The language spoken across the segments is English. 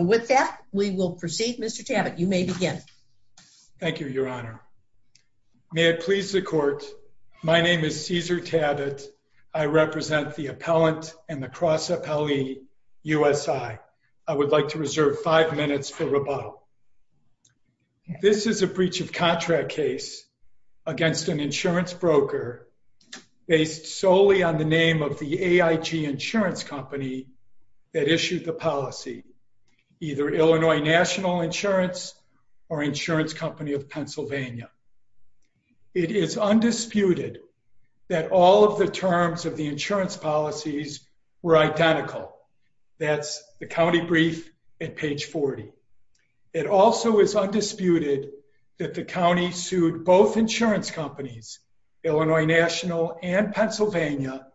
With that, we will proceed. Mr. Tabbitt, you may begin. Thank you, Your Honor. May it please the Court, my name is Cesar Tabbitt. I represent the Appellant and the Cross Appellee, USI. I would like to reserve five minutes for rebuttal. This is a breach of contract case against an insurance broker based solely on the name of AIG Insurance Company that issued the policy, either Illinois National Insurance or Insurance Company of Pennsylvania. It is undisputed that all of the terms of the insurance policies were identical. That's the county brief at page 40. It also is undisputed that the county sued both insurance companies, Illinois National and Pennsylvania,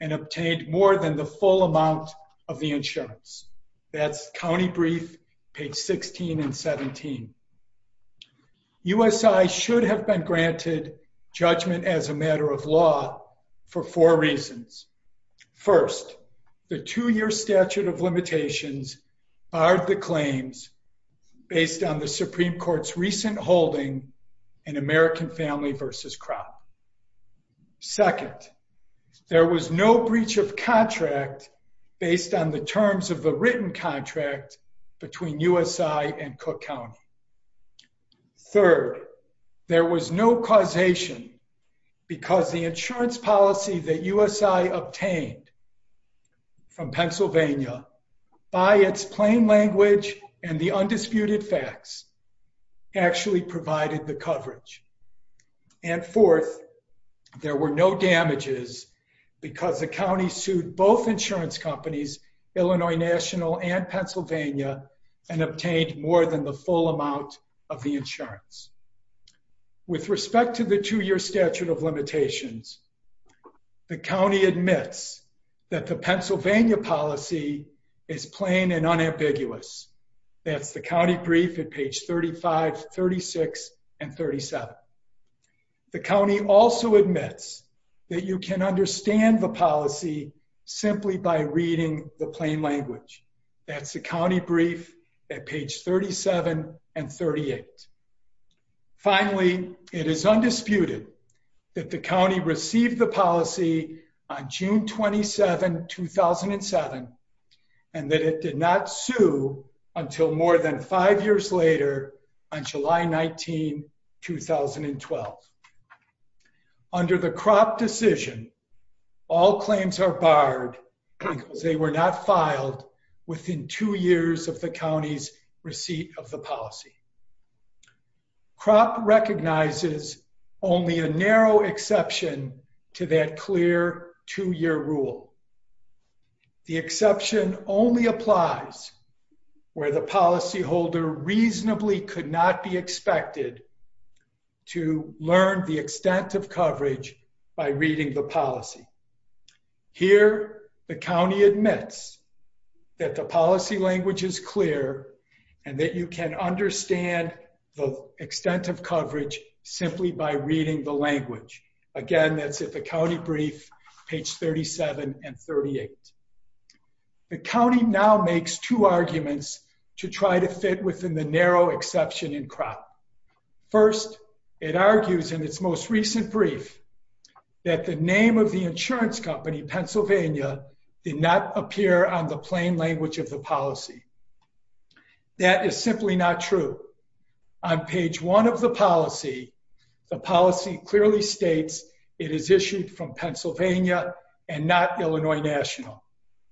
and obtained more than the full amount of the insurance. That's county brief page 16 and 17. USI should have been granted judgment as a matter of law for four reasons. First, the two-year statute of limitations barred the claims based on the Supreme Court's recent holding in American Family v. Crown. Second, there was no breach of contract based on the terms of the written contract between USI and Cook County. Third, there was no causation because the insurance policy that USI obtained from Pennsylvania, by its plain language and the undisputed facts, actually provided the coverage. And fourth, there were no damages because the county sued both insurance companies, Illinois National and Pennsylvania, and obtained more than the full amount of the insurance. With respect to the two-year statute of limitations, the county admits that the Pennsylvania policy is plain and unambiguous. That's the county brief at page 35, 36, and 37. The county also admits that you can understand the policy simply by reading the plain language. That's the county brief at page 37 and 38. Finally, it is undisputed that the county received the policy on June 27, 2007, and that it did not sue until more than five years later on July 19, 2012. Under the crop decision, all claims are barred because they were not filed within two years of the county's receipt of the policy. Crop recognizes only a narrow exception to that clear two-year rule. The exception only applies where the policyholder reasonably could not be expected to learn the extent of coverage by reading the policy. Here, the county admits that the policy language is clear and that you can understand the extent of coverage simply by reading the language. Again, that's at the county brief, page 37 and 38. The county now makes two arguments to try to fit within the narrow exception in crop. First, it argues in its most recent brief that the name of the insurance company, Pennsylvania, did not appear on the plain language of the policy. That is simply not true. On page one of the policy, the policy clearly states it is issued from Pennsylvania and not Illinois National.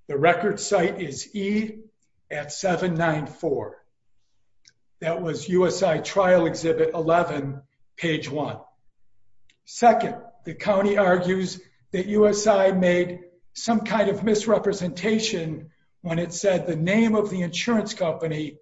The record site is E at 794. That was USI Trial Exhibit 11, page one. Second, the county argues that USI made some kind of misrepresentation when it said the name of the insurance company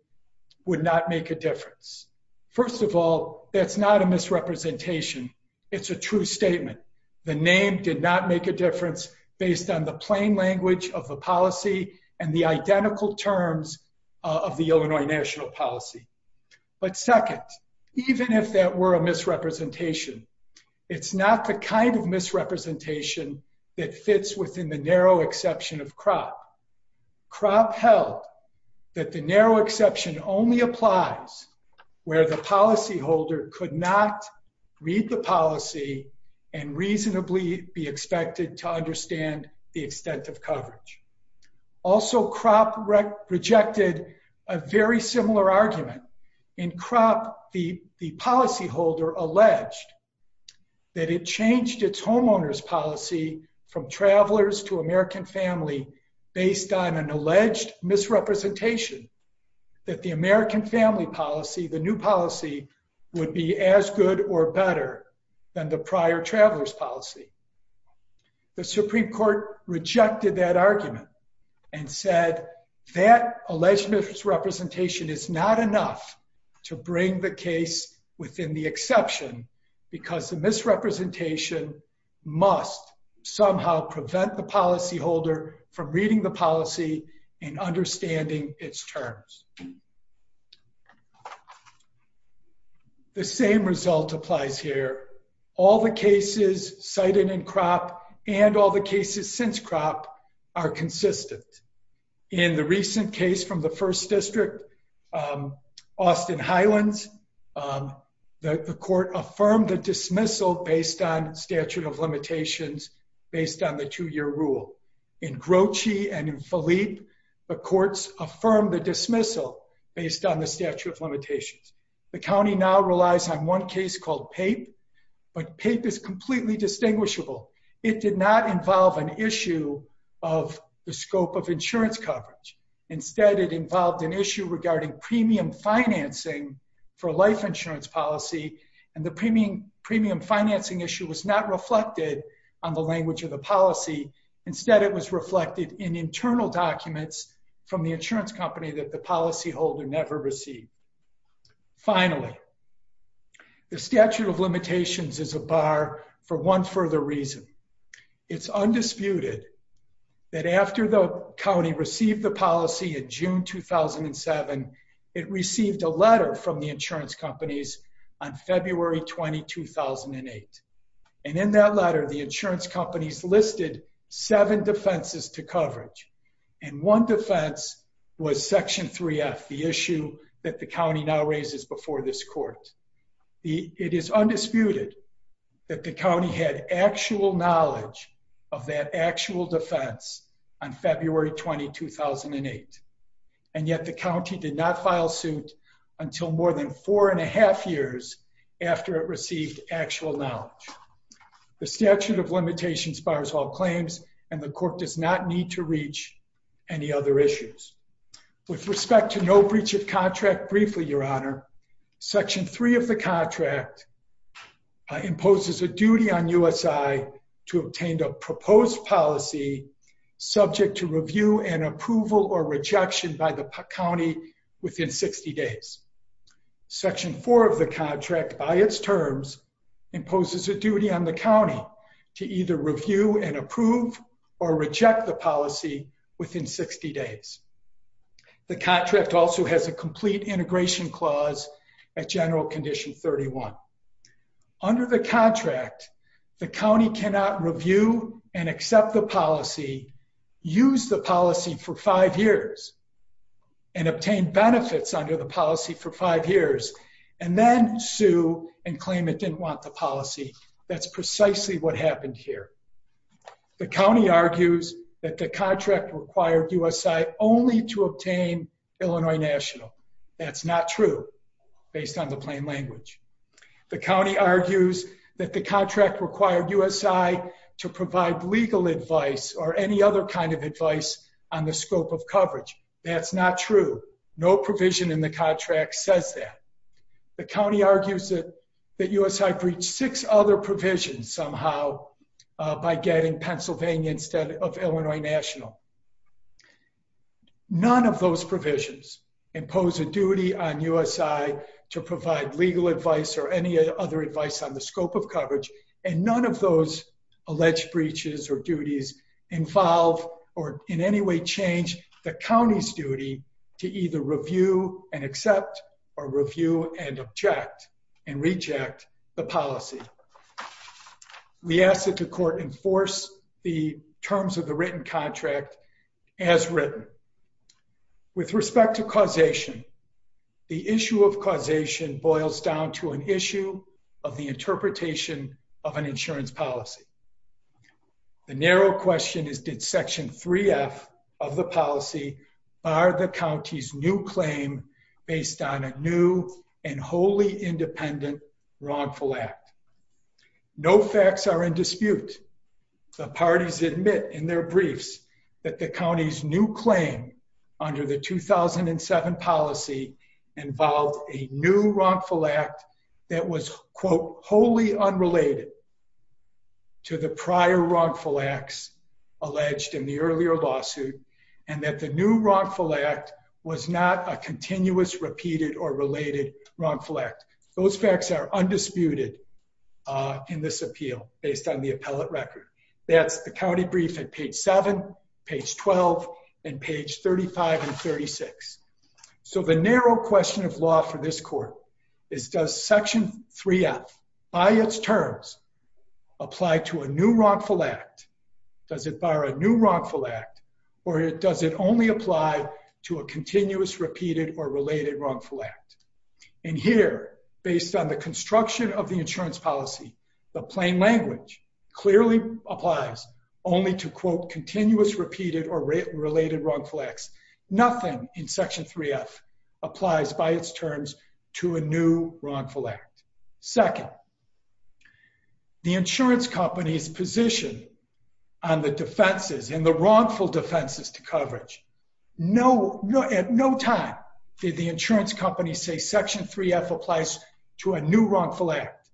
would not make a difference. First of all, that's not a misrepresentation. It's a true statement. The name did not make a difference based on the plain language of the policy and the identical terms of the Illinois national policy. But second, even if that were a misrepresentation, it's not the kind of misrepresentation that fits within the narrow exception of crop. Crop held that the narrow exception only applies where the policyholder could not read the policy and reasonably be expected to understand the extent of coverage. Also, crop rejected a very similar argument. In crop, the policyholder alleged that it changed its homeowner's policy from travelers to American family based on an alleged misrepresentation that the American family policy, the new policy, would be as good or better than the prior traveler's policy. The Supreme Court rejected that argument and said that alleged misrepresentation is not enough to bring the case within the exception because the misrepresentation must somehow prevent the policyholder from reading the policy and understanding its terms. The same result applies here. All the cases cited in crop and all the cases since crop are consistent. In the recent case from the first district, Austin Highlands, the court affirmed the dismissal based on statute of limitations based on the two-year rule. In Grocey and in Philippe, the courts affirmed the dismissal based on the statute of limitations. The county now relies on one case called PAPE, but PAPE is completely distinguishable. It did not involve an issue of the scope of insurance coverage. Instead, it involved an issue regarding premium financing for life insurance policy, and the premium financing issue was not reflected on the language of the policy. Instead, it was reflected in internal documents from the insurance company that the policyholder never received. Finally, the statute of limitations is a bar for one further reason. It's undisputed that after the county received the policy in June 2007, it received a letter from the insurance companies on February 20, 2008, and in that letter, the insurance companies listed seven defenses to coverage, and one defense was section 3F, the issue that the county now raises before this court. It is undisputed that the county had actual knowledge of that actual defense on February 20, 2008, and yet the county did not file suit until more than four and a half years after it received actual knowledge. The statute of limitations bars all claims, and the court does not need to reach any other issues. With respect to no breach of contract, briefly, your honor, section 3 of the contract imposes a duty on USI to obtain a proposed policy subject to review and approval or rejection by the county within 60 days. Section 4 of the contract by its terms imposes a duty on the county to either review and approve or reject the policy within 60 days. The contract also has a complete integration clause at general condition 31. Under the contract, the county cannot review and accept the policy, use the policy for five years, and obtain benefits under the policy for five years, and then sue and claim it didn't want the policy. That's precisely what happened here. The county argues that the contract required USI only to obtain Illinois National. That's not true based on the plain language. The county argues that the contract required USI to provide legal advice or any other kind of advice on the scope of coverage. That's not true. No provision in the contract says that. The county argues that USI breached six other provisions somehow by getting Pennsylvania instead of Illinois National. None of those provisions impose a duty on USI to provide legal advice or any other advice on the scope of coverage, and none of those alleged breaches or duties involve or in any way change the county's duty to either review and accept or review and object and reject the policy. We ask that the court enforce the terms of the written contract as written. With respect to causation, the issue of causation boils down to an issue of the interpretation of an insurance policy. The narrow question is did section 3F of the policy bar the county's new claim based on a new and wholly independent wrongful act? No facts are in dispute. The parties admit in their briefs that the county's new claim under the 2007 policy involved a new wrongful act that was, quote, wholly unrelated to the prior wrongful acts alleged in the earlier lawsuit and that the new wrongful act was not a continuous repeated or related wrongful act. Those facts are undisputed in this appeal based on the appellate record. That's the county brief at page 7, page 12, and page 35 and 36. So the narrow question of law for this court is does section 3F by its terms apply to a new wrongful act, does it bar a new wrongful act, or does it only apply to a continuous repeated or related wrongful act? And here, based on the construction of the insurance policy, the plain language clearly applies only to, quote, continuous repeated or related wrongful acts. Nothing in section 3F applies by its terms to a new wrongful act. Second, the insurance company's position on the defenses and the wrongful defenses to coverage. No, at no time did the insurance company say section 3F applies to a new wrongful act.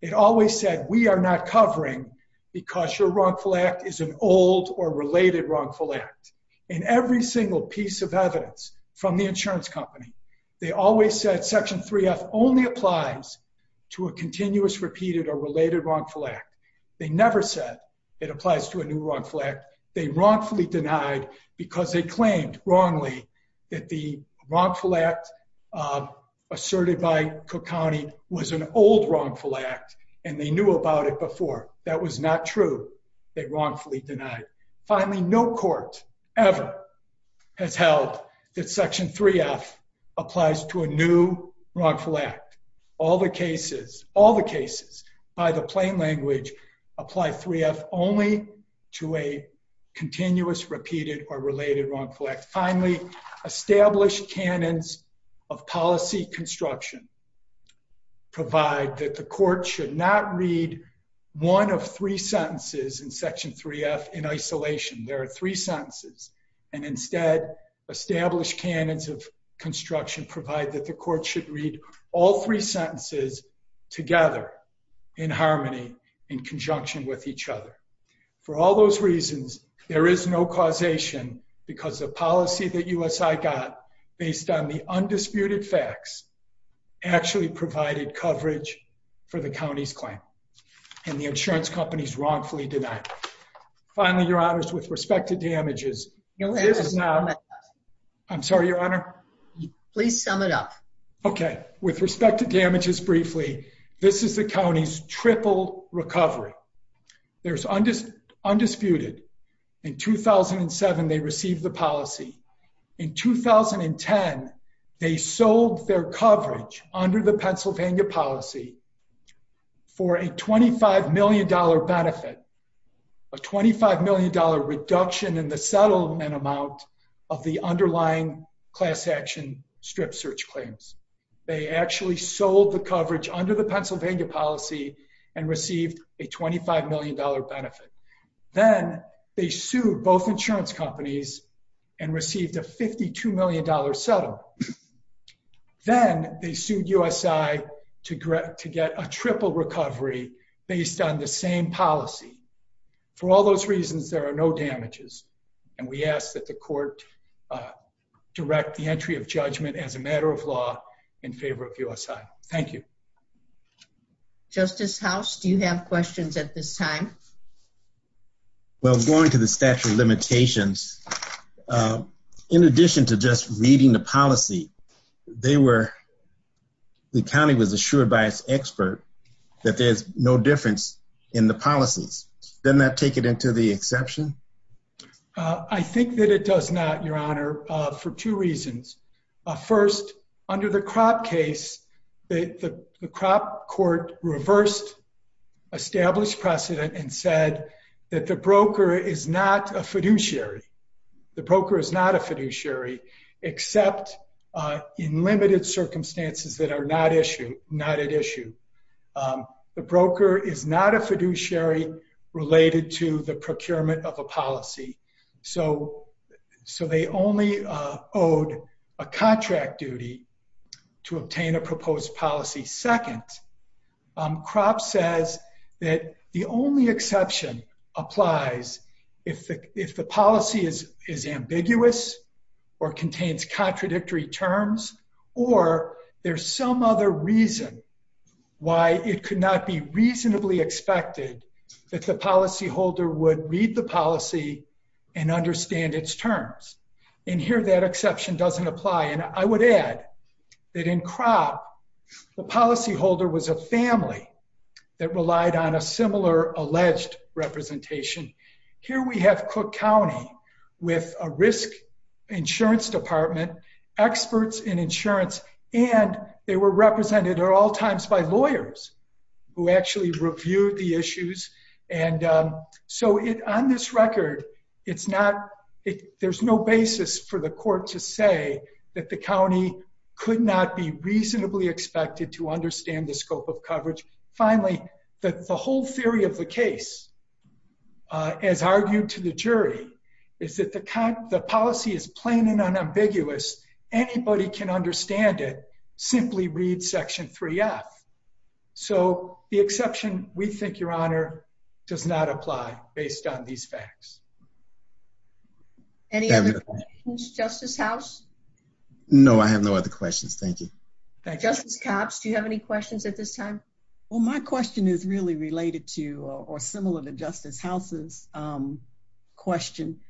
It always said we are not covering because your wrongful act is an old or related wrongful act. In every single piece of evidence from the insurance company, they always said section 3F only applies to a continuous repeated or related wrongful act. They never said it applies to a new wrongful act. They wrongfully denied because they claimed wrongly that the wrongful act asserted by Cook County was an old wrongful act and they knew about it before. That was not true. They wrongfully denied. Finally, no court ever has held that section 3F applies to a new wrongful act. All the cases, all the cases by the plain language apply 3F only to a new wrongful act. Established canons of policy construction provide that the court should not read one of three sentences in section 3F in isolation. There are three sentences and instead established canons of construction provide that the court should read all three sentences together in harmony, in conjunction with each other. For all those reasons, there is no causation because the policy that USI got based on the undisputed facts actually provided coverage for the county's claim and the insurance companies wrongfully denied. Finally, your honors, with respect to damages, this is not... I'm sorry, your honor. Please sum it up. Okay, with respect to damages briefly, this is the county's triple recovery. There's undisputed. In 2007, they received the policy. In 2010, they sold their coverage under the Pennsylvania policy for a $25 million benefit, a $25 million reduction in the settlement amount of the underlying class action strip search claims. They actually sold the coverage under the Pennsylvania policy and received a $25 million benefit. Then they sued both insurance companies and received a $52 million settlement. Then they sued USI to get a triple recovery based on the same policy. For all those reasons, there are no damages and we ask that the justice... Justice House, do you have questions at this time? Well, going to the statute of limitations, in addition to just reading the policy, they were... The county was assured by its expert that there's no difference in the policies. Doesn't that take it into the exception? I think that it does not, your honor, for two reasons. First, under the crop case, the crop court reversed established precedent and said that the broker is not a fiduciary. The broker is not a fiduciary except in limited circumstances that are not at issue. The broker is not a fiduciary related to the procurement of a policy. So they only owed a contract duty to obtain a proposed policy. Second, crop says that the only exception applies if the policy is ambiguous or contains contradictory terms, or there's some other reason why it could not be reasonably expected that the policyholder would read the policy and understand its terms. And here, that exception doesn't apply. And I would add that in crop, the policyholder was a family that relied on a similar alleged representation. Here we have Cook County with a risk insurance department, experts in insurance, and they were represented at all times by lawyers who actually reviewed the issues. And so on this record, there's no basis for the court to say that the county could not be reasonably expected to understand the scope of coverage. Finally, the whole theory of the case, as argued to the jury, is that the policy is plain and unambiguous. Anybody can understand it. Simply read section 3F. So the exception, we think, Your Honor, does not apply based on these facts. Any other questions, Justice House? No, I have no other questions. Thank you. Justice Copps, do you have any questions at this time? Well, my question is really related to or similar to Justice House's question.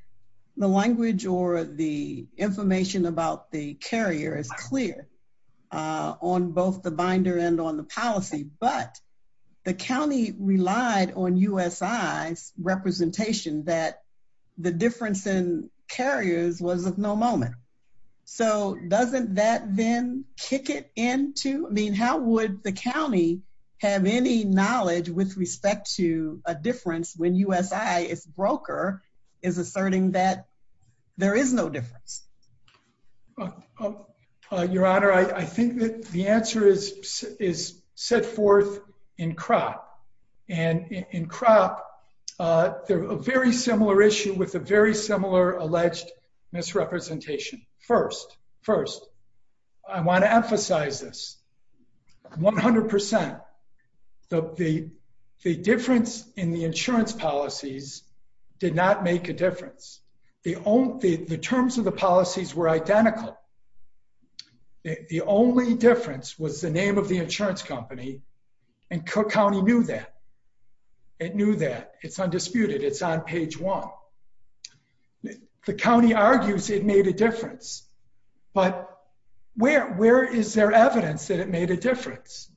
The language or the information about the carrier is clear on both the binder and on the policy, but the county relied on USI's representation that the difference in carriers was of no moment. So doesn't that then kick it into, I mean, how would the county have any knowledge with respect to a difference when USI, its broker, is asserting that there is no difference? Your Honor, I think that the answer is set forth in CROP. And in CROP, a very similar issue with a very similar alleged misrepresentation. First, I want to emphasize this 100%. The difference in the insurance policies did not make a difference. The terms of the policies were identical. The only difference was the name of the insurance company, and Cook County knew that. It knew that. It's undisputed. It's on page one. The county argues it made a difference, but where is there evidence that it made a difference?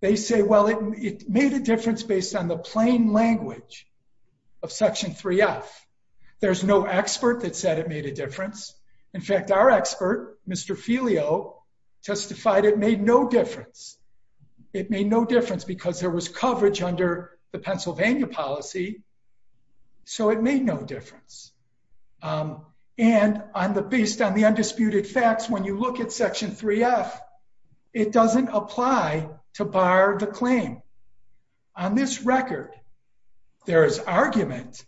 They say, well, it made a difference based on the plain language of Section 3F. There's no expert that said it made a difference. In fact, our expert, Mr. Filio, testified it made no difference. It made no difference because there was coverage under the Pennsylvania policy, so it made no difference. And based on the undisputed facts, when you look at Section 3F, it doesn't apply to bar the claim. On this record, there is argument,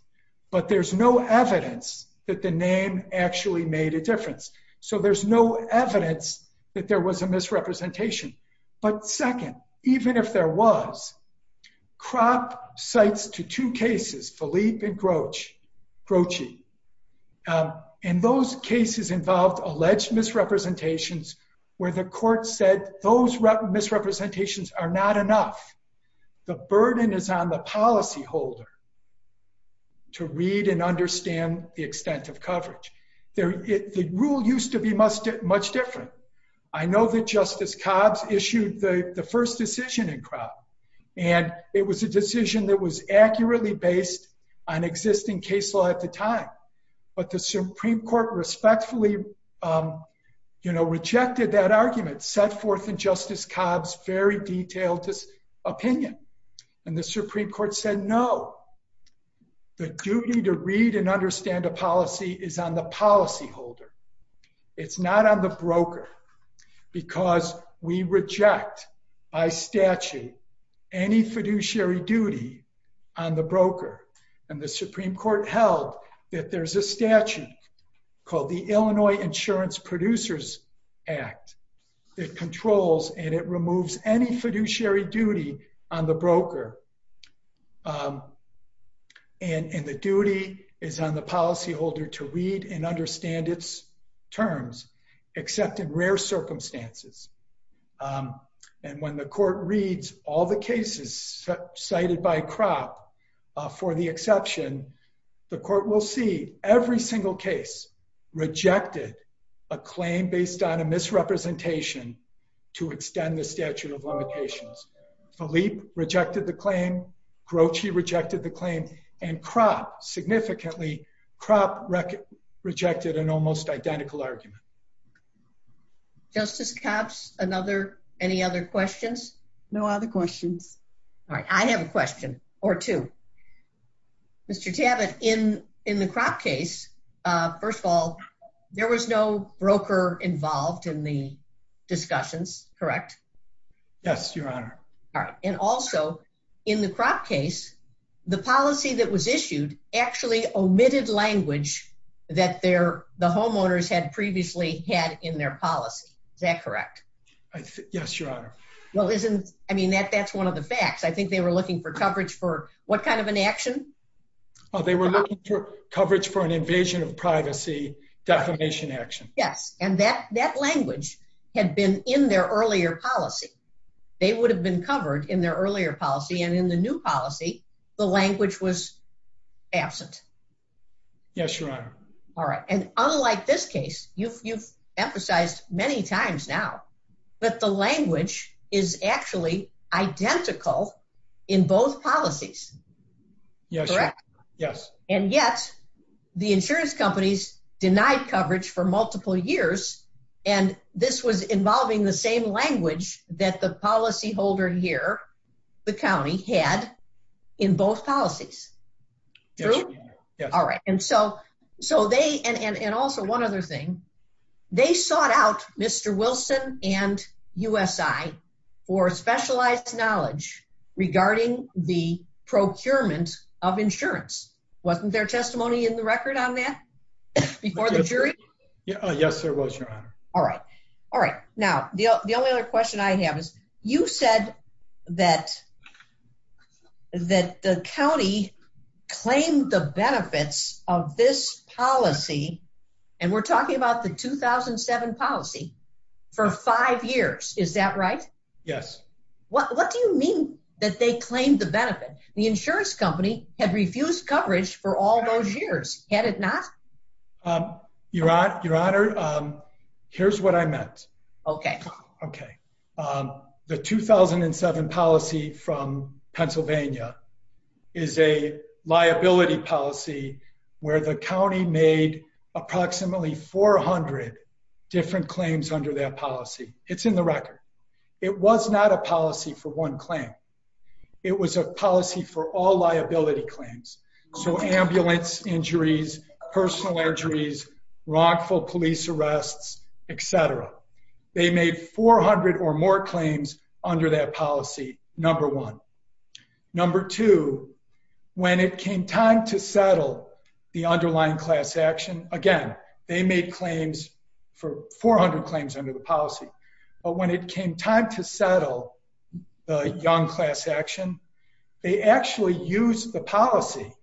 but there's no evidence that the name actually made a difference. So there's no evidence that there was a misrepresentation. But second, even if there was, CROP cites to two cases, Philippe and Grochi, and those cases involved alleged misrepresentations where the court said those misrepresentations are not enough. The burden is on the policyholder to read and understand the extent of coverage. The rule used to be much different. I know that issued the first decision in CROP, and it was a decision that was accurately based on existing case law at the time. But the Supreme Court respectfully rejected that argument, set forth in Justice Cobb's very detailed opinion. And the Supreme Court said, no, the duty to read and understand a policy is on the policyholder. It's not on the broker, because we reject by statute, any fiduciary duty on the broker. And the Supreme Court held that there's a statute called the Illinois Insurance Producers Act that controls and it removes any fiduciary duty on the broker. And the duty is on the policyholder to read and understand its terms, except in rare circumstances. And when the court reads all the cases cited by CROP, for the exception, the court will see every single case rejected a claim based on a misrepresentation to extend the statute of limitations. Philippe rejected the claim. Grouchy rejected the claim. And CROP, significantly, CROP rejected an almost identical argument. Justice Cobb, any other questions? No other questions. All right, I have a question or two. Mr. Tabat, in the CROP case, first of all, there was no broker involved in the discussions, correct? Yes, Your Honor. All right. And also, in the CROP case, the policy that was issued actually omitted language that the homeowners had previously had in their policy. Is that correct? Yes, Your Honor. Well, isn't, I mean, that's one of the facts. I think they were looking for coverage for what kind of an action? They were looking for coverage for an invasion of privacy defamation action. Yes. And that language had been in their earlier policy. They would have been covered in their earlier policy. And in the new policy, the language was absent. Yes, Your Honor. All right. And unlike this case, you've emphasized many times now, that the language is actually identical in both policies. Yes, Your Honor. Correct? Yes. And yet, the insurance companies denied coverage for multiple years. And this was involving the same language that the policyholder here, the county, had in both policies. True? Yes, Your Honor. Yes. All right. And so they, and also one other thing, they sought out Mr. Wilson and USI for specialized knowledge regarding the procurement of insurance. Wasn't there testimony in the record on that before the jury? Yes, there was, Your Honor. All right. All right. Now, the only other question I have is, you said that the county claimed the benefits of this policy, and we're talking about the 2007 policy, for five years. Is that right? Yes. What do you mean that they claimed the benefit? The insurance company had refused coverage for all those years. Had it not? Your Honor, here's what I meant. Okay. Okay. The 2007 policy from Pennsylvania is a liability policy where the county made approximately 400 different claims under that policy. It's in the record. It was not a policy for one claim. It was a policy for all liability claims. So ambulance injuries, personal injuries, wrongful police arrests, et cetera. They made 400 or more claims under that policy, number one. Number two, when it came time to settle the underlying class action, again, they made claims for 400 claims under the policy. But when it came time to settle the young class action, they actually used the policy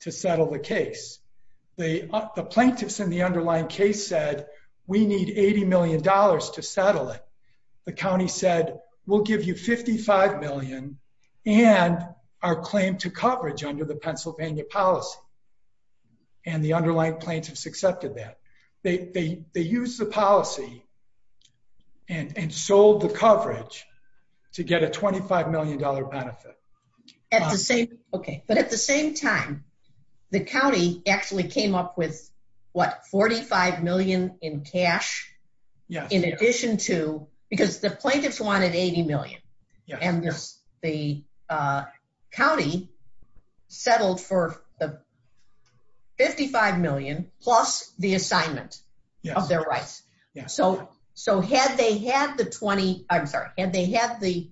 to settle the case. The plaintiffs in underlying case said, we need $80 million to settle it. The county said, we'll give you $55 million and our claim to coverage under the Pennsylvania policy. And the underlying plaintiffs accepted that. They used the policy and sold the coverage to get a $25 million benefit. At the same, okay. But at the same time, the county actually came up with what? $45 million in cash in addition to, because the plaintiffs wanted $80 million and the county settled for $55 million plus the assignment of their rights. So had they had the 20, I'm sorry, had they had the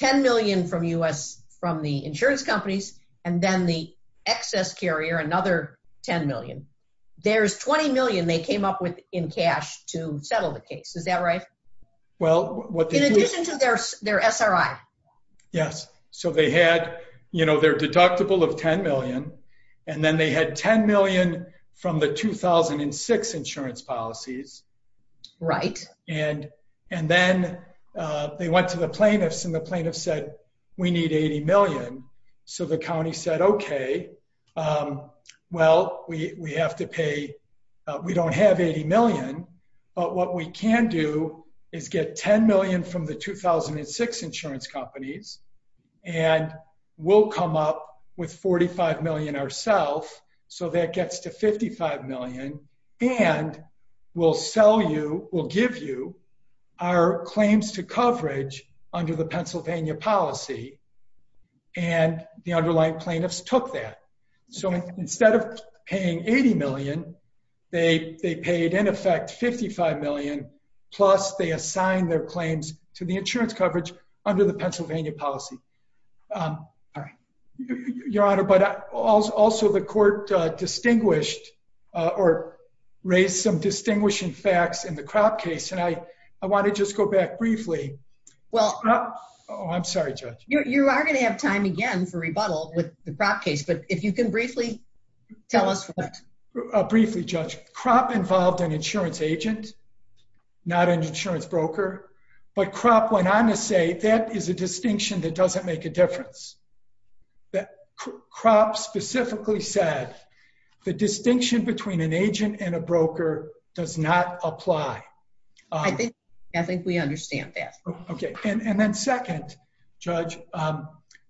$10 million from the insurance companies and then the excess carrier, another $10 million, there's $20 million they came up with in cash to settle the case. Is that right? Well, what they do- In addition to their SRI. Yes. So they had, they're deductible of $10 million and then they had $10 million from the 2006 insurance policies. Right. And then they went to the plaintiffs and the plaintiffs said, we need $80 million. So the county said, okay, well, we have to pay, we don't have $80 million, but what we can do is get $10 insurance companies and we'll come up with $45 million ourself. So that gets to $55 million and we'll sell you, we'll give you our claims to coverage under the Pennsylvania policy. And the underlying plaintiffs took that. So instead of paying $80 million, they paid in $45 million. Plus they assigned their claims to the insurance coverage under the Pennsylvania policy. Your honor, but also the court distinguished or raised some distinguishing facts in the crop case. And I want to just go back briefly. Well, I'm sorry, judge. You are going to have time again for rebuttal with the crop case, but if you can briefly tell us. Briefly judge crop involved an insurance agent, not an insurance broker, but crop went on to say that is a distinction that doesn't make a difference. That crop specifically said the distinction between an agent and a broker does not apply. I think, I think we understand that. Okay. And then second judge,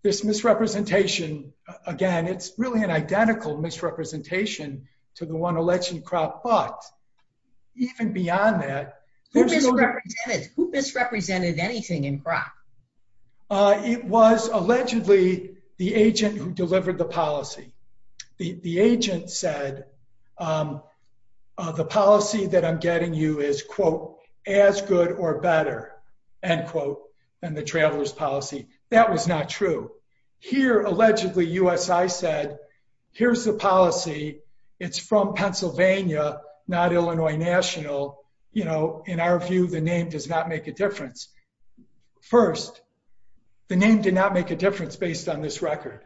this misrepresentation, again, it's really an identical misrepresentation to the one election crop, but even beyond that. Who misrepresented anything in crop? It was allegedly the agent who delivered the policy. The agent said the policy that I'm getting you is quote as good or better and quote, and the traveler's policy. That was not true here. Allegedly us. I said, here's the policy. It's from Pennsylvania, not Illinois national. You know, in our view, the name does not make a difference. First, the name did not make a difference based on this record.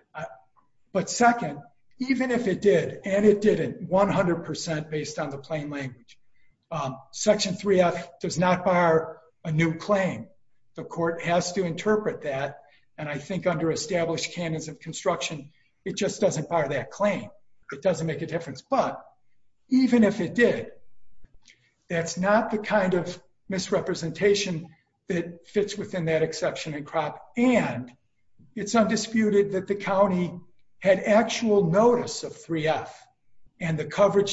But second, even if it did, and it did it 100% based on the plain language, section three F does not bar a new claim. The court has to interpret that. And I think under established canons of construction, it just doesn't bar that claim. It doesn't make a difference. But even if it did, that's not the kind of misrepresentation that fits within that exception and crop. And it's undisputed that the County had actual notice of three F and the 20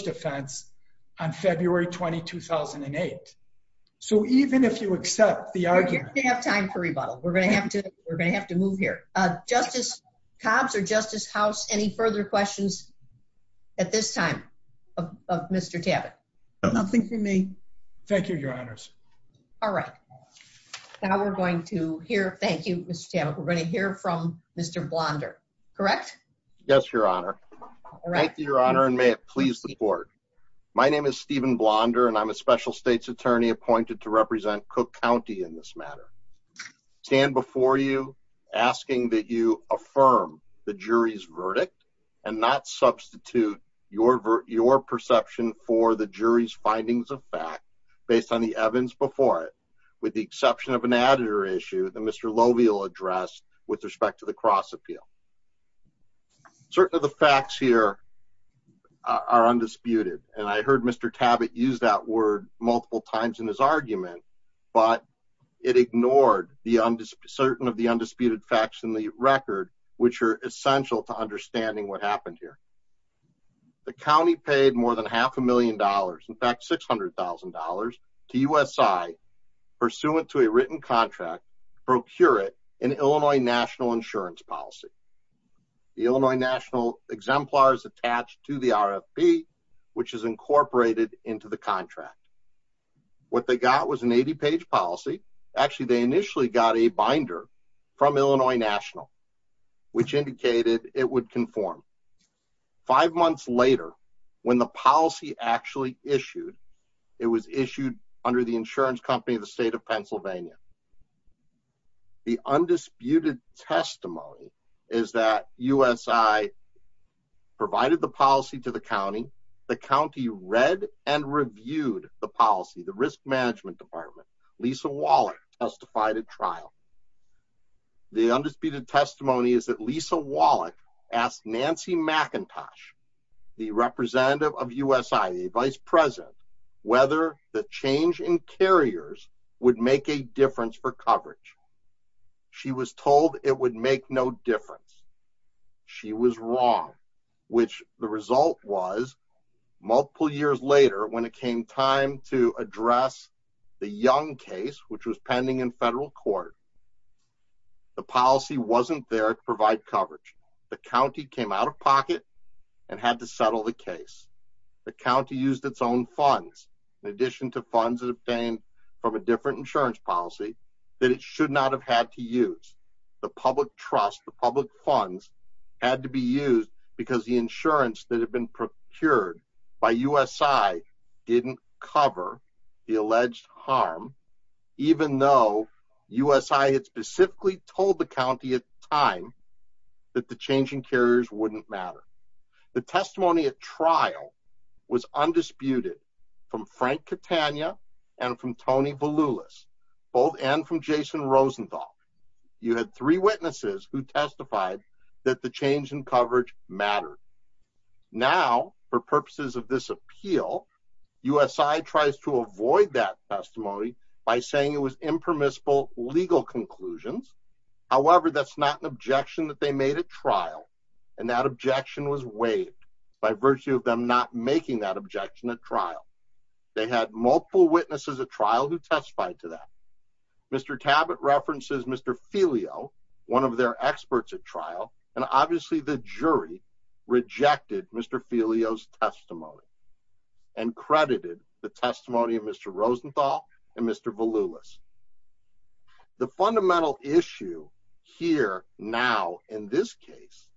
2008. So even if you accept the argument, we have time for rebuttal, we're going to have to, we're going to have to move here. Justice Cobbs or Justice House. Any further questions at this time? Mr. Tabbitt? Nothing for me. Thank you, Your Honors. All right. Now we're going to hear Thank you, Mr. We're going to hear from Mr. Blonder. Correct? Yes, and I'm a special states attorney appointed to represent Cook County in this matter, stand before you asking that you affirm the jury's verdict and not substitute your, your perception for the jury's findings of fact, based on the Evans before it, with the exception of an editor issue that Mr. Lovie will address with respect to the cross appeal. Certain of the facts here are undisputed. And I heard Mr. Tabbitt use that word multiple times in his argument, but it ignored the undisputed, certain of the undisputed facts in the record, which are essential to understanding what happened here. The County paid more than half a million dollars, in fact, $600,000 to U S I pursuant to a written contract, procure it in Illinois national insurance policy, the Illinois national exemplars attached to the RFP, which is incorporated into the contract. What they got was an 80 page policy. Actually, they initially got a binder from Illinois national, which indicated it would conform five months later when the policy actually issued, it was issued under the insurance company of the state of Pennsylvania. The undisputed testimony is that U S I provided the policy to the County, the County read and reviewed the policy, the risk management department, Lisa Waller testified at trial. The undisputed testimony is that Lisa Wallach asked Nancy McIntosh, the representative of U S I the vice president, whether the change in carriers would make a difference for coverage. She was told it would make no difference. She was wrong, which the result was multiple years later, when it came time to address the young case, which was pending in federal court, the policy wasn't there to provide coverage. The county came out of pocket and had to settle the case. The county used its own funds. In addition to funds obtained from a different insurance policy that it should not have had to use the public trust. The public funds had to be used because the insurance that had been procured by U S I didn't cover the alleged harm, even though U S I had specifically told the county at time that the change in carriers wouldn't matter. The testimony at trial was undisputed from Frank Catania and from Tony Beloulus, both and from Jason Rosenthal. You had three witnesses who testified that the change in coverage mattered. Now for purposes of this appeal, U S I tries to avoid that testimony by saying it was impermissible legal conclusions. However, that's not an objection that they made at trial. And that objection was waived by virtue of them not making that objection at trial. They had multiple witnesses at trial who testified to that. Mr. Tabat references, Mr. Filio, one of their experts at trial. And obviously the jury rejected Mr. Filio's testimony and credited the testimony of Mr. Rosenthal and Mr. Beloulus. The fundamental issue here now in this case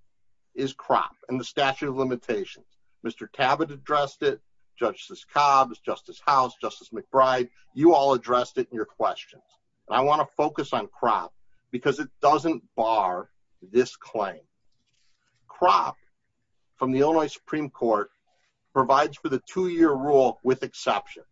is crop and the statute of limitations. Mr. Tabat addressed it, judges Cobbs, justice house, justice McBride, you all addressed it in your questions. And I want to focus on crop because it doesn't bar this claim. Crop from the Illinois Supreme provides for the two year rule with exceptions.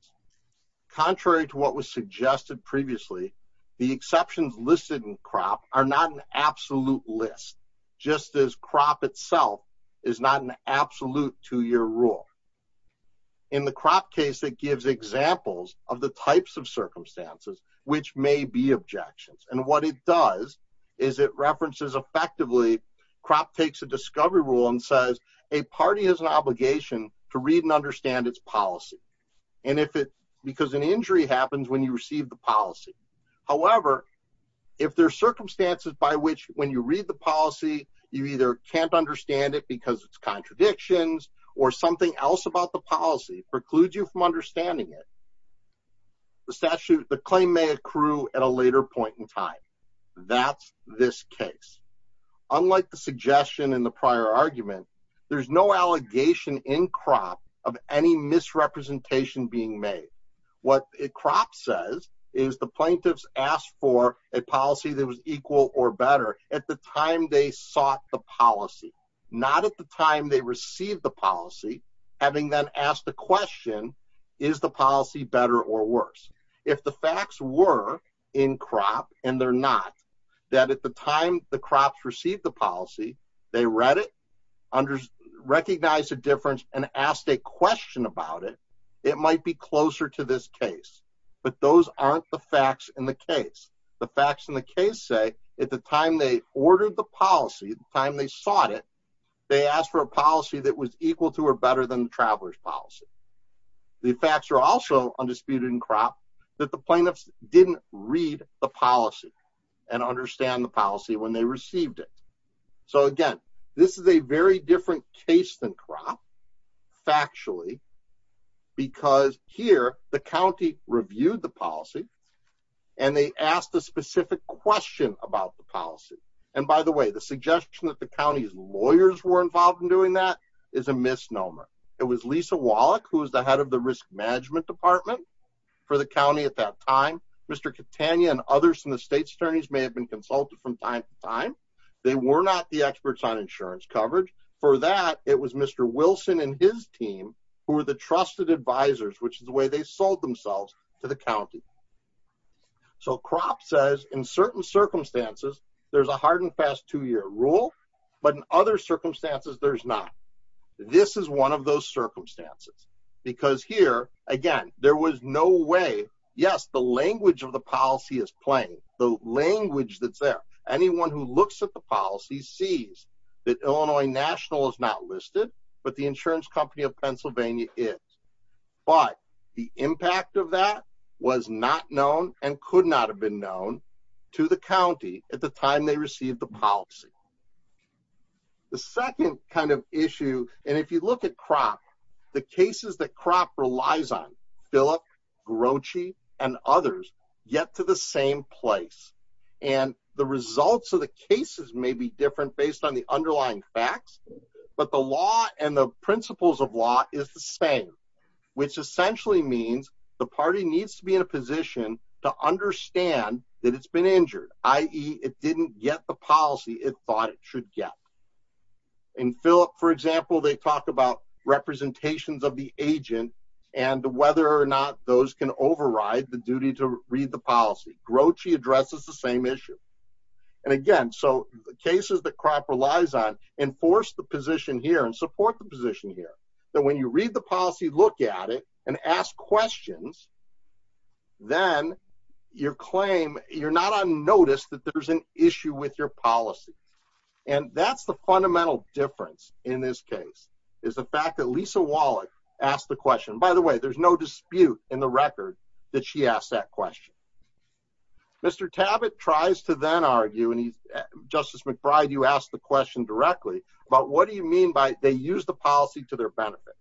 Contrary to what was suggested previously, the exceptions listed in crop are not an absolute list. Just as crop itself is not an absolute two year rule. In the crop case that gives examples of the types of circumstances, which may be objections. And what it does is it references effectively crop takes a discovery rule and says a party has an obligation to read and understand its policy. And if it, because an injury happens when you receive the policy. However, if there are circumstances by which when you read the policy, you either can't understand it because it's contradictions or something else about the policy precludes you from understanding it. The statute, the claim may accrue at a later point in time. That's this case. Unlike the suggestion in the prior argument, there's no allegation in crop of any misrepresentation being made. What it crop says is the plaintiffs asked for a policy that was equal or better at the time they sought the policy, not at the time they received the and they're not that at the time the crops received the policy, they read it under recognized a difference and asked a question about it. It might be closer to this case, but those aren't the facts in the case. The facts in the case say at the time they ordered the policy time, they sought it. They asked for a policy that was equal to or better than the traveler's policy. The facts are also undisputed in crop that the plaintiffs didn't read the policy and understand the policy when they received it. So again, this is a very different case than crop factually, because here the county reviewed the policy and they asked a specific question about the policy. And by the way, the suggestion that the county's lawyers were involved in doing that is a misnomer. It was Lisa Wallach, who was the head of the risk management department for the county at that time. Mr. Catania and others in the state's attorneys may have been consulted from time to time. They were not the experts on insurance coverage for that. It was Mr. Wilson and his team who were the trusted advisors, which is the way they sold themselves to the county. So crop says in certain circumstances, there's a hard and fast two not. This is one of those circumstances. Because here, again, there was no way, yes, the language of the policy is plain, the language that's there. Anyone who looks at the policy sees that Illinois National is not listed, but the insurance company of Pennsylvania is. But the impact of that was not known and could not have been known to the county at the time they received the policy. The second kind of issue, and if you look at crop, the cases that crop relies on, Philip, Grouchy, and others get to the same place. And the results of the cases may be different based on the underlying facts. But the law and the principles of law is the same, which essentially means the party needs to be in a position to understand that it's been injured, i.e. it didn't get the policy it thought it should get. And Philip, for example, they talk about representations of the agent and whether or not those can override the duty to read the policy. Grouchy addresses the same issue. And again, so the cases that crop relies on enforce the position here and support the position here, that when you read the policy, look at it and ask questions, then your claim, you're not on notice that there's an issue with your policy. And that's the fundamental difference in this case is the fact that Lisa Wallach asked the question. By the way, there's no dispute in the record that she asked that question. Mr. Tabbitt tries to then argue, and Justice McBride, you asked the question directly about what do you mean by they use policy to their benefit?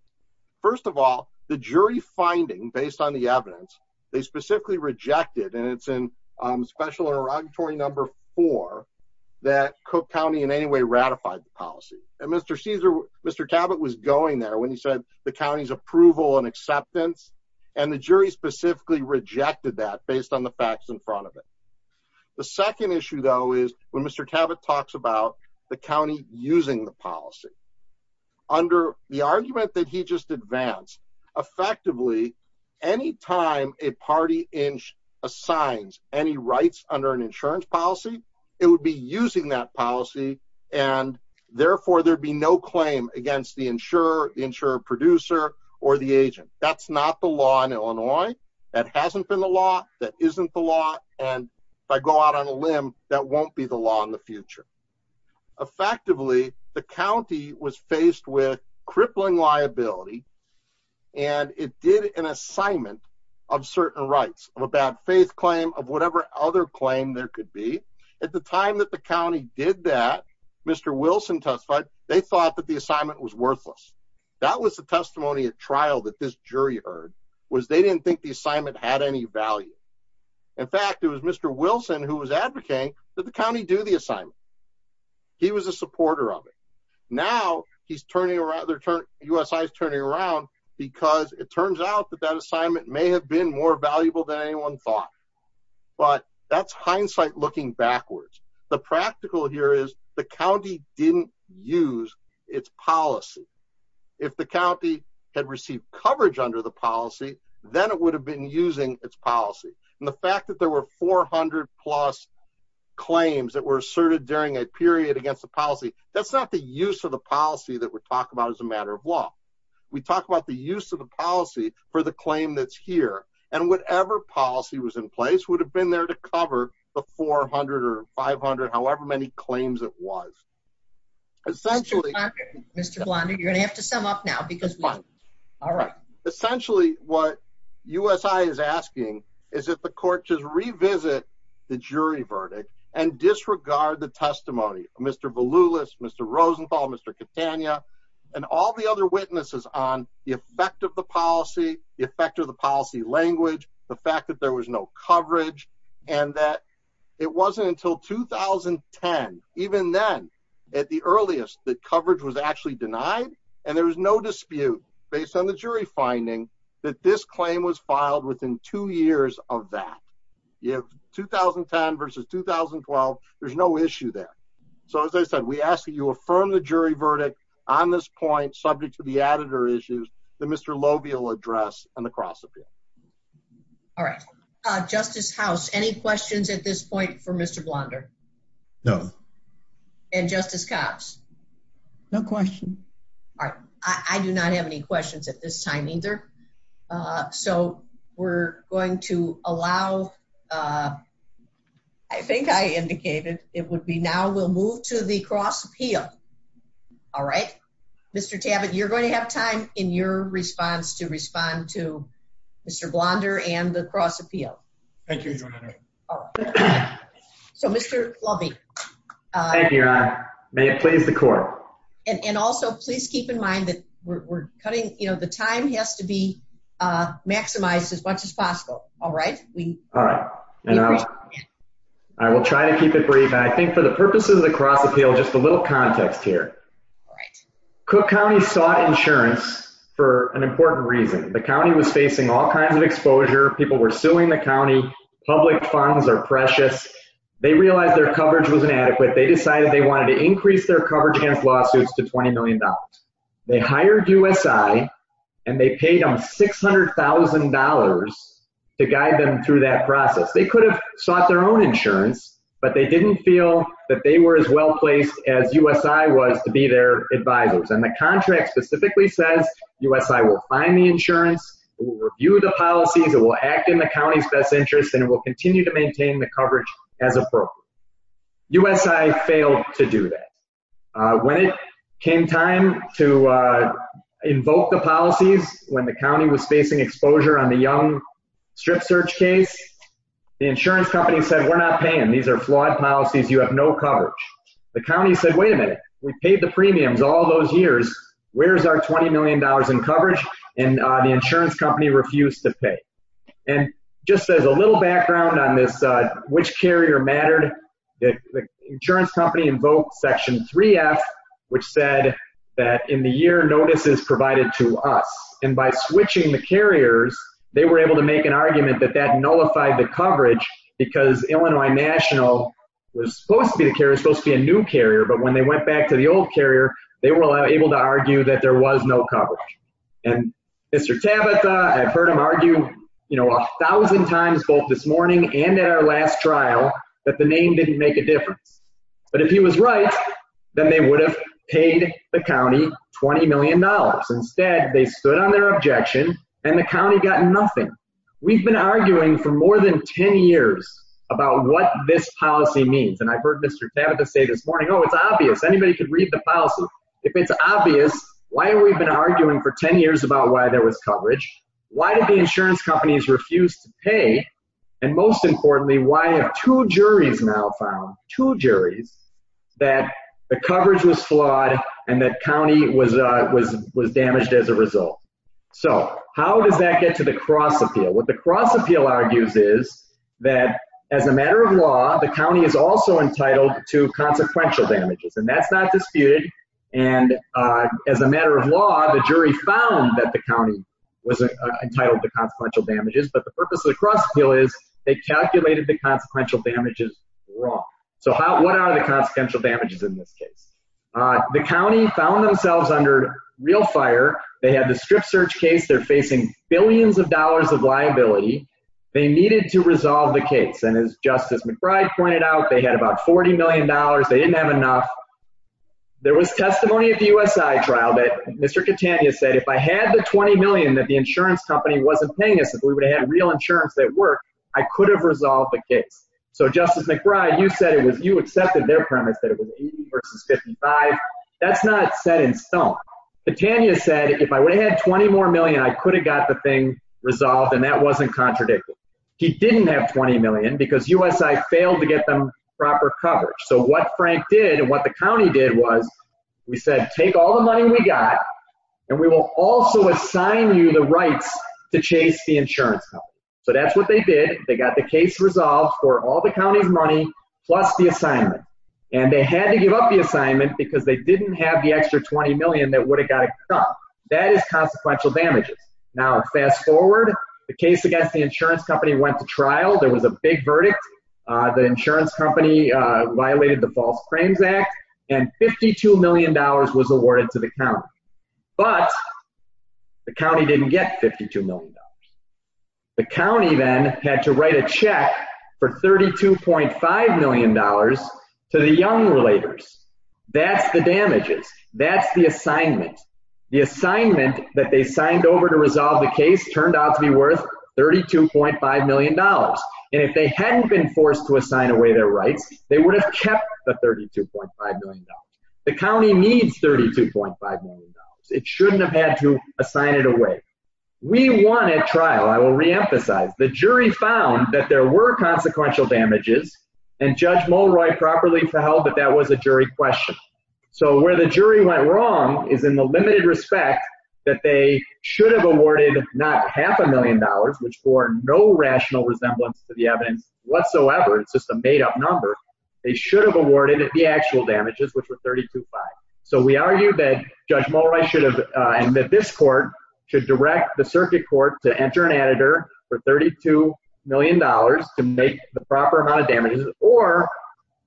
First of all, the jury finding based on the evidence, they specifically rejected and it's in special interrogatory number four, that Cook County in any way ratified the policy. And Mr. Caesar, Mr. Tabbitt was going there when he said the county's approval and acceptance. And the jury specifically rejected that based on the facts in front of it. The second issue, though, is when Mr. Tabbitt talks about the county using the policy. Under the argument that he just advanced, effectively, any time a party assigns any rights under an insurance policy, it would be using that policy. And therefore, there'd be no claim against the insurer, the insurer producer, or the agent. That's not the law in Illinois. That hasn't been the law. That isn't the law. And if I go out on a limb, that won't be the law in the future. Effectively, the county was faced with crippling liability. And it did an assignment of certain rights of a bad faith claim of whatever other claim there could be. At the time that the county did that, Mr. Wilson testified, they thought that the assignment was worthless. That was the testimony at trial that this jury heard was they didn't think the assignment had any value. In fact, it was Mr. Wilson who was advocating that the county do the assignment. He was a supporter of it. Now, he's turning around, the USI is turning around because it turns out that that assignment may have been more valuable than anyone thought. But that's hindsight looking backwards. The practical here is the county didn't use its policy. If the county had received coverage under the policy, then it would have been using its policy. And the fact that there were 400 plus claims that were asserted during a period against the policy, that's not the use of the policy that we're talking about as a matter of law. We talked about the use of the policy for the claim that's here. And whatever policy was in place would have been there to cover the 400 or 500 however many claims it was. Essentially, Mr. Blondie, you're gonna have to sum up now because all right, essentially, what USI is asking is that the court to revisit the jury verdict and disregard the testimony, Mr. Volus, Mr. Rosenthal, Mr. Catania, and all the other witnesses on the effect of the policy, the effect of the policy language, the fact that there was no coverage, and that it wasn't until 2010. Even then, at the earliest that coverage was actually denied, and there was no dispute based on the jury finding that this claim was filed within two years of that. You have 2010 versus 2012. There's no issue there. So as I said, we ask that you affirm the jury verdict on this point, subject to the editor issues, the Mr. Lobiel address and the cross appeal. All right, Justice House, any questions at this point for Mr. Blonder? No. And Justice Cobbs? No question. All right. I do not have any questions at this time either. So we're going to allow, I think I indicated it would be now we'll move to the cross appeal. All right, Mr. Tabin, you're going to have time in your response to respond to Mr. Blonder and the cross appeal. Thank you, Your Honor. So Mr. Lovey. Thank you, Your Honor. May it please the court. And also, please keep in mind that we're cutting, you know, the time has to be maximized as much as possible. All right. All right. And I will try to keep it brief. I think for the purposes of the cross appeal, just a little context here. Cook County sought insurance for an important reason. The public funds are precious. They realized their coverage was inadequate. They decided they wanted to increase their coverage against lawsuits to $20 million. They hired USI and they paid them $600,000 to guide them through that process. They could have sought their own insurance, but they didn't feel that they were as well placed as USI was to be their advisors. And the contract specifically says, USI will find the insurance, will review the policies that will act in the best interest, and it will continue to maintain the coverage as appropriate. USI failed to do that. When it came time to invoke the policies, when the county was facing exposure on the young strip search case, the insurance company said, we're not paying. These are flawed policies. You have no coverage. The county said, wait a minute. We paid the premiums all those years. Where's our $20 million in coverage? And the insurance company refused to pay. And just as a little background on this, which carrier mattered, the insurance company invoked section 3F, which said that in the year notices provided to us, and by switching the carriers, they were able to make an argument that that nullified the coverage because Illinois National was supposed to be the carrier, supposed to be a new carrier. But when they went back to the old carrier, they were able to argue that there was no coverage. And Mr. Tabatha, I've heard him argue a thousand times both this morning and at our last trial that the name didn't make a difference. But if he was right, then they would have paid the county $20 million. Instead, they stood on their objection and the county got nothing. We've been arguing for more than 10 years about what this policy means. And I've heard Mr. Tabatha say this morning, oh, it's obvious. Anybody could read the policy. If it's obvious, why have we been arguing for 10 years about why there was coverage? Why did the insurance companies refuse to pay? And most importantly, why have two juries now found, two juries, that the coverage was flawed and that county was damaged as a result? So how does that get to the cross appeal? What the cross appeal argues is that as a matter of law, the county is also entitled to consequential damages, and that's not disputed. And as a matter of law, the jury found that the county was entitled to consequential damages, but the purpose of the cross appeal is they calculated the consequential damages wrong. So what are the consequential damages in this case? The county found themselves under real fire. They had the strip search case. They're facing billions of dollars of liability. They needed to resolve the case. And as Justice McBride pointed out, they had about $40 million. They didn't have enough. There was testimony at the USI trial that Mr. Catania said, if I had the 20 million that the insurance company wasn't paying us, if we would have real insurance at work, I could have resolved the case. So Justice McBride, you said it was, you accepted their premise that it was 80 versus 55. That's not set in stone. Catania said, if I would have had 20 more million, I could have got the thing resolved. And that wasn't contradictory. He didn't have 20 million because USI failed to get them proper coverage. So what Frank did and what the county did was we said, take all the money we got, and we will also assign you the rights to chase the insurance company. So that's what they did. They got the case resolved for all the county's money plus the assignment. And they had to give up the assignment because they didn't have the extra 20 million that would have got to come. That is consequential damages. Now, fast forward, the case against the insurance company went to trial, there was a big verdict. The insurance company violated the False Crimes Act, and $52 million was awarded to the county. But the county didn't get $52 million. The county then had to write a check for $32.5 million to the young relators. That's the damages. That's the assignment. The assignment that they signed over to resolve the case turned out to be worth $32.5 million. And if they hadn't been forced to assign away their rights, they would have kept the $32.5 million. The county needs $32.5 million. It shouldn't have had to assign it away. We won at trial, I will reemphasize, the jury found that there were consequential damages. And Judge Mulroy properly held that that was a jury question. So where the jury went wrong is in the limited respect that they should have awarded not half a million dollars, which bore no rational resemblance to the evidence whatsoever. It's just a made up number. They should have awarded the actual damages, which were $32.5 million. So we argue that Judge Mulroy should have, and that this court, should direct the circuit court to enter an editor for $32 million to make the proper amount of damages, or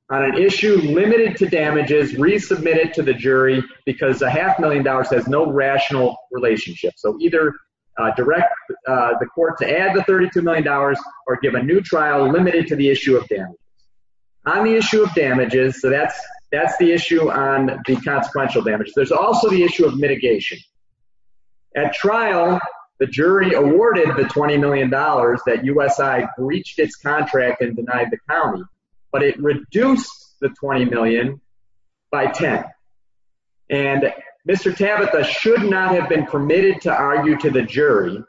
on an issue limited to damages, resubmit it to the jury, because a half million dollars has no rational relationship. So either direct the court to add the $32 million, or give a new trial limited to the issue of damage. On the issue of damages, so that's, that's the issue on the consequential damage. There's also the issue of mitigation. At trial, the jury awarded the $20 million that USI breached its contract and denied the county, but it reduced the $20 million by 10. And Mr. Tabitha should not have been permitted to argue to the jury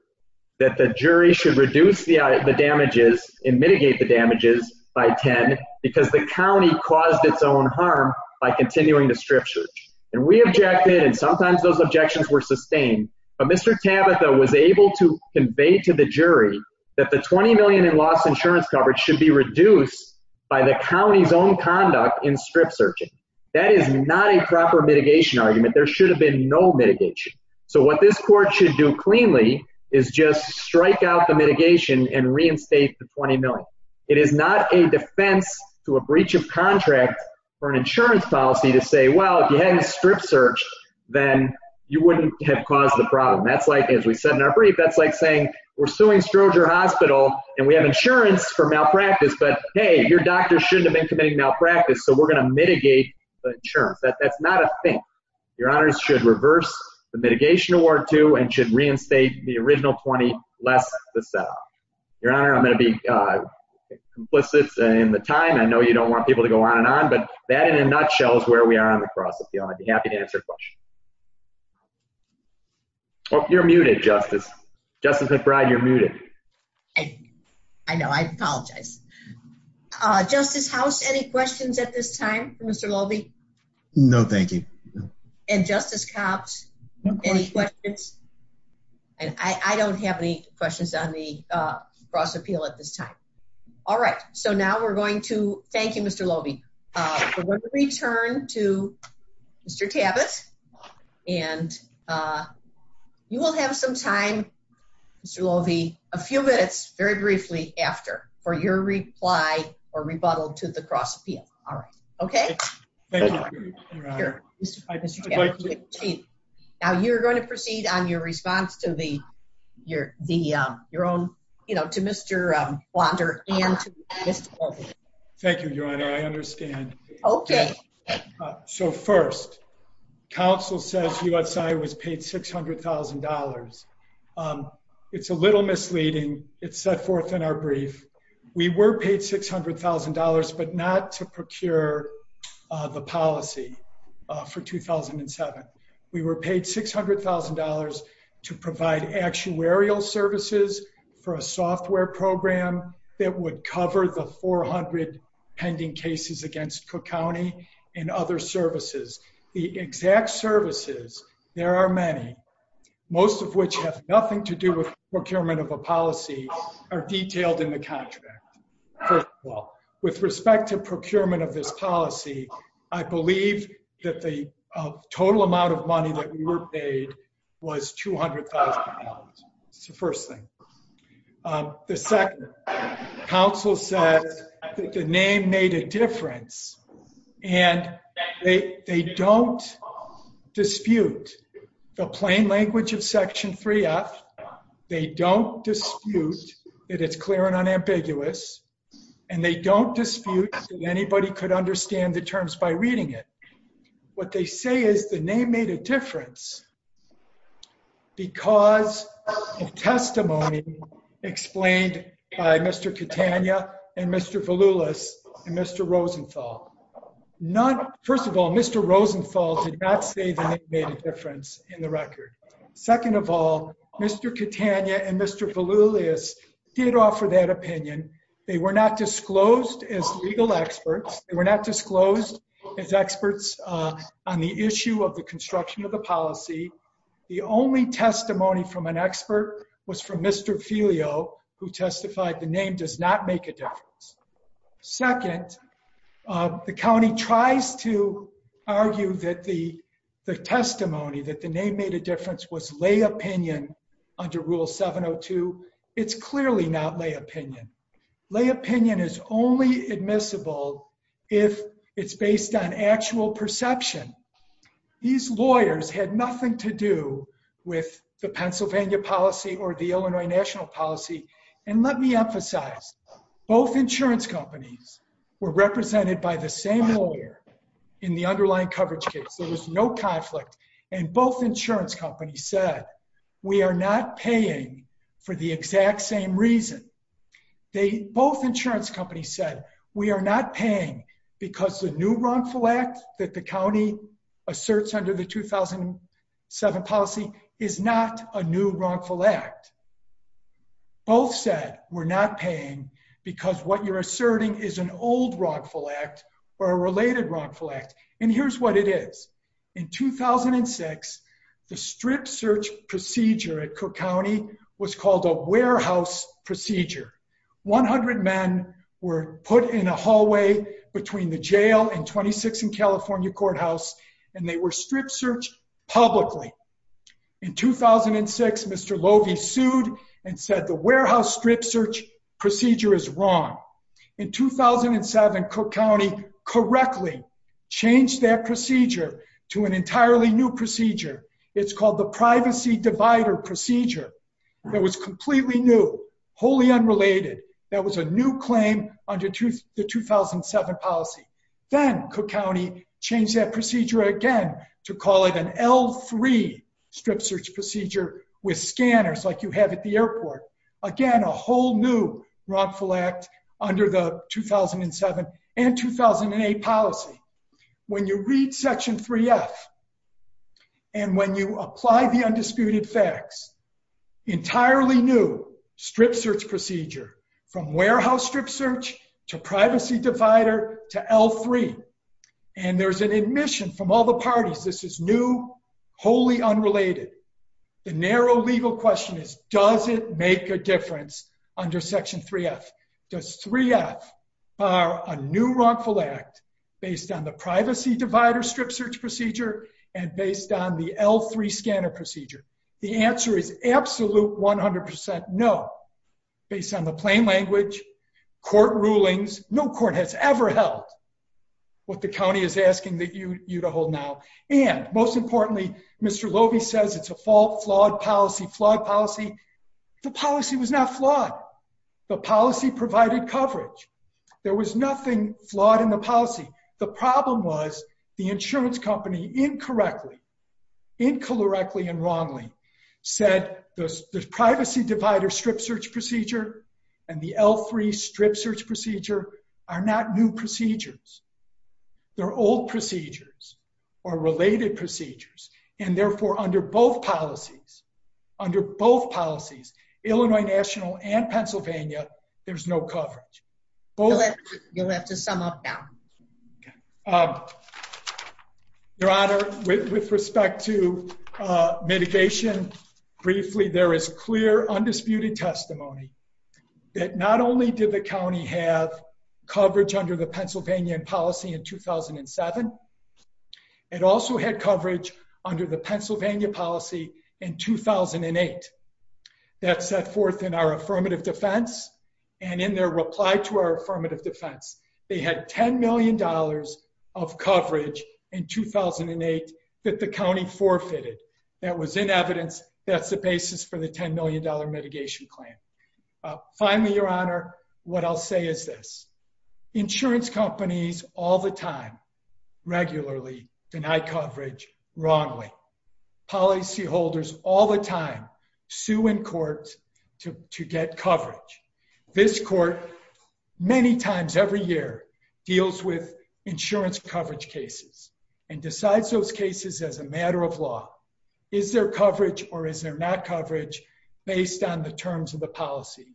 that the jury should reduce the damages and mitigate the damages by 10, because the county caused its own harm by continuing to strip search. And we objected, and sometimes those objections were sustained, but Mr. Tabitha was able to convey to the jury that the $20 million in lost insurance coverage should be reduced by the county's own conduct in strip searching. That is not a proper mitigation argument. There should have been no mitigation. So what this court should do cleanly is just strike out the mitigation and reinstate the $20 million. It is not a defense to a breach of contract for an insurance policy to say, well, if you hadn't strip searched, then you wouldn't have caused the problem. That's like, as we said in our brief, that's like saying we're suing Stroger Hospital and we have insurance for malpractice, but hey, your doctor shouldn't have been committing malpractice, so we're going to mitigate the insurance. That's not a thing. Your honors should reverse the mitigation award too and should reinstate the original $20 less the set-off. Your honor, I'm going to be complicit in the time. I know you don't want people to go on and on, but that in a nutshell is where we are on the I'd be happy to answer questions. Oh, you're muted, Justice. Justice McBride, you're muted. I know. I apologize. Justice House, any questions at this time for Mr. Loewe? No, thank you. And Justice Copps, any questions? And I don't have any questions on the cross appeal at this time. All right. So now we're going to return to Mr. Tabbitt and you will have some time, Mr. Loewe, a few minutes, very briefly after for your reply or rebuttal to the cross appeal. All right. Okay. Now you're going to proceed on your response to Mr. Blonder and to Mr. Loewe. Thank you, your honor. I understand. Okay. So first, counsel says USI was paid $600,000. It's a little misleading. It's set forth in our brief. We were paid $600,000, but not to procure the policy for 2007. We were paid $600,000 to Cook County and other services. The exact services, there are many, most of which have nothing to do with procurement of a policy are detailed in the contract. First of all, with respect to procurement of this policy, I believe that the total amount of money that we were paid was $200,000. That's the first thing. The second, counsel says that the name made a difference and they don't dispute the plain language of section 3F. They don't dispute that it's clear and unambiguous and they don't dispute that anybody could understand the terms by reading it. What they say is the name made a difference because of testimony explained by Mr. Rosenthal. First of all, Mr. Rosenthal did not say the name made a difference in the record. Second of all, Mr. Catania and Mr. Volulius did offer that opinion. They were not disclosed as legal experts. They were not disclosed as experts on the issue of the construction of the policy. The only testimony from an expert was from Mr. Filio, who testified the name does not make a difference. Second, the county tries to argue that the testimony that the name made a difference was lay opinion under Rule 702. It's clearly not lay opinion. Lay opinion is only admissible if it's based on actual perception. These lawyers had nothing to do with the Pennsylvania policy or the Illinois national policy and let me emphasize both insurance companies were represented by the same lawyer in the underlying coverage case. There was no conflict and both insurance companies said we are not paying for the exact same reason. Both insurance companies said we are not paying because the new wrongful act that the county asserts under the 2007 policy is not a new wrongful act. Both said we're not paying because what you're asserting is an old wrongful act or a related wrongful act and here's what it is. In 2006, the strip search procedure at Cook County was called a warehouse procedure. 100 men were put in a hallway between the jail and 26th and California sued and said the warehouse strip search procedure is wrong. In 2007, Cook County correctly changed that procedure to an entirely new procedure. It's called the privacy divider procedure. That was completely new, wholly unrelated. That was a new claim under the 2007 policy. Then Cook County changed that procedure again to call it an L3 strip search procedure with scanners like you have at the airport. Again, a whole new wrongful act under the 2007 and 2008 policy. When you read section 3F and when you apply the undisputed facts, entirely new strip search procedure from warehouse strip search to privacy divider to L3 and there's an admission from all the parties this is new, wholly unrelated. The narrow legal question is does it make a difference under section 3F? Does 3F bar a new wrongful act based on the privacy divider strip search procedure and based on the L3 scanner procedure? The answer is absolute 100 percent no. Based on the plain language, court rulings, no court has ever held what the county is asking you to hold now. Most importantly, Mr. Loewe says it's a flawed policy. The policy was not flawed. The policy provided coverage. There was nothing flawed in the policy. The problem was the insurance company incorrectly, incorrectly, and wrongly said the privacy divider strip search procedure and the L3 strip search procedure are not new procedures. They're old procedures or related procedures and therefore under both policies, under both policies, Illinois National and Pennsylvania, there's no coverage. You'll have to sum up now. Your honor, with respect to mitigation, briefly there is clear undisputed testimony that not only did the county have coverage under the Pennsylvania policy in 2007, it also had coverage under the Pennsylvania policy in 2008. That set forth in our affirmative defense and in their reply to our affirmative defense. They had 10 million dollars of coverage in 2008 that the county forfeited. That was in evidence. That's the basis for the 10 million dollar mitigation plan. Finally, your honor, what I'll say is this. Insurance companies all the time regularly deny coverage wrongly. Policyholders all the time sue in court to get coverage. This court many times every year deals with insurance coverage cases and decides those terms of the policy.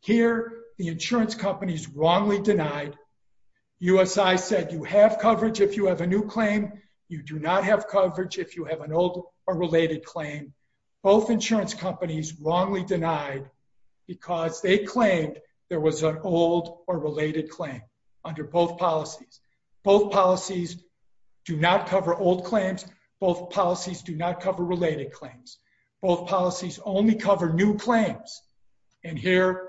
Here, the insurance companies wrongly denied. USI said you have coverage if you have a new claim. You do not have coverage if you have an old or related claim. Both insurance companies wrongly denied because they claimed there was an old or related claim under both policies. Both policies do not cover old claims. Both policies do not cover related claims. Both policies only cover new claims and here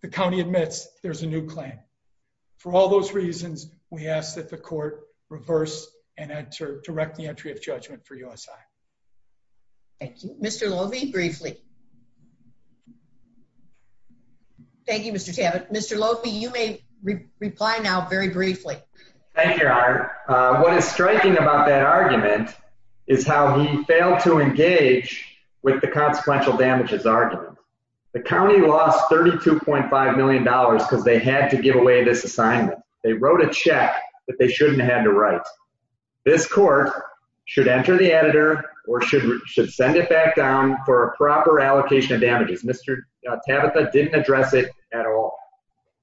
the county admits there's a new claim. For all those reasons, we ask that the court reverse and enter direct the entry of judgment for USI. Thank you. Mr. Lovi, briefly. Thank you, Mr. Tabbitt. Mr. Lovi, you may reply now very briefly. Thank you, your honor. What is striking about that argument is how he failed to engage with the consequential damages argument. The county lost 32.5 million dollars because they had to give away this assignment. They wrote a check that they shouldn't have to write. This court should enter the editor or should should send it back down for a proper allocation of damages. Mr. Tabitha didn't address it at all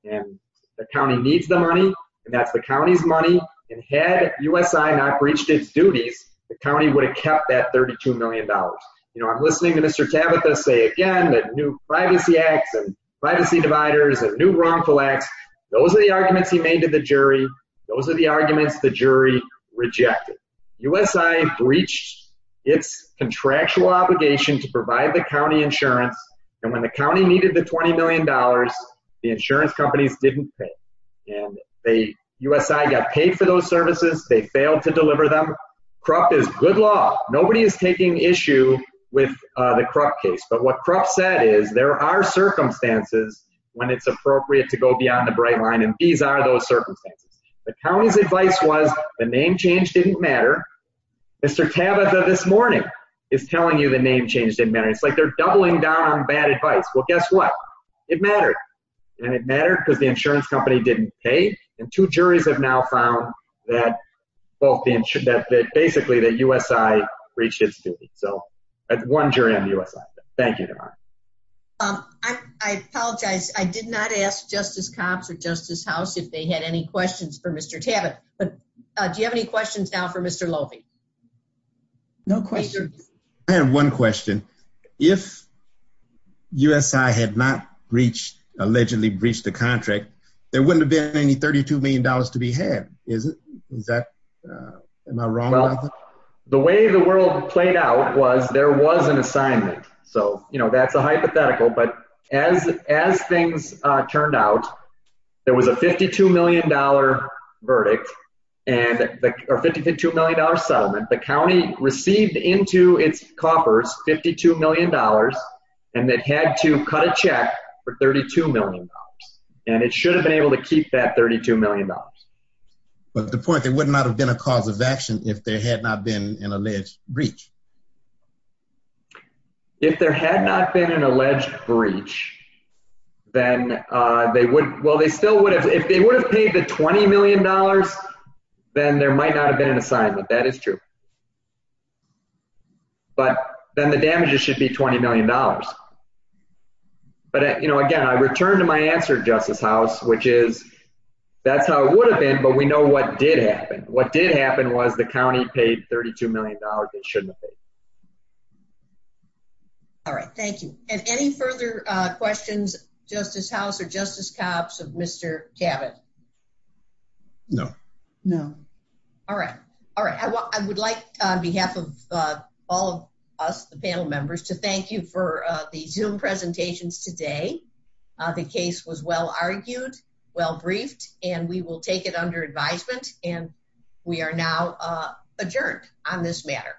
and the county needs the money and that's the county's money and had USI not breached its duties, the county would have kept that 32 million dollars. You know, I'm listening to Mr. Tabitha say again that new privacy acts and privacy dividers and new wrongful acts. Those are the arguments he made to the jury. Those are the arguments the jury rejected. USI breached its contractual obligation to provide the county insurance and when the county needed the 20 million dollars, the insurance companies didn't pay and they, USI got paid for those services. They failed to deliver them. Krupp is good law. Nobody is taking issue with the Krupp case but what Krupp said is there are circumstances when it's appropriate to go beyond the bright line and these are those circumstances. The county's advice was the name change didn't matter. Mr. Tabitha this morning is telling you the name change didn't matter. It's like they're doubling down on bad advice. Well, guess what? It mattered and it mattered because the insurance company didn't pay and two juries have now found that both the insurance, that basically that USI breached its duty. So that's one jury on the USI. Thank you. I apologize. I did not ask Justice Copps or Justice House if they had any questions for Mr. Tabitha but do you have any questions now for Mr. Lofi? No questions. I have one question. If USI had not breached, allegedly breached the contract, there wouldn't have been any 32 million dollars to be had, is it? Is that, am I wrong? Well, the way the world played out was there was an assignment. So, you know, that's a hypothetical but as things turned out, there was a 52 million dollar verdict or 52 million dollar settlement. The county received into its coffers 52 million dollars and it had to cut a check for 32 million dollars and it should have been able to keep that 32 million dollars. But the point, there would not have been a cause of action if there had not been an alleged breach. If there had not been an alleged breach, then they would, well, they still would have, if they would have paid the 20 million dollars, then there might not have been an assignment. That is true. But then the damages should be 20 million dollars. But, you know, again, I return to my answer, Justice House, which is that's how it would have been but we know what did happen. What did happen was the county paid 32 million dollars. It shouldn't have been. All right. Thank you. And any further questions, Justice House or Justice Copps of Mr. Cabot? No. No. All right. All right. I would like, on behalf of all of us, the panel members, to thank you for the Zoom presentations today. The case was well argued, well briefed, and we will take it under advisement and we are now adjourned on this matter.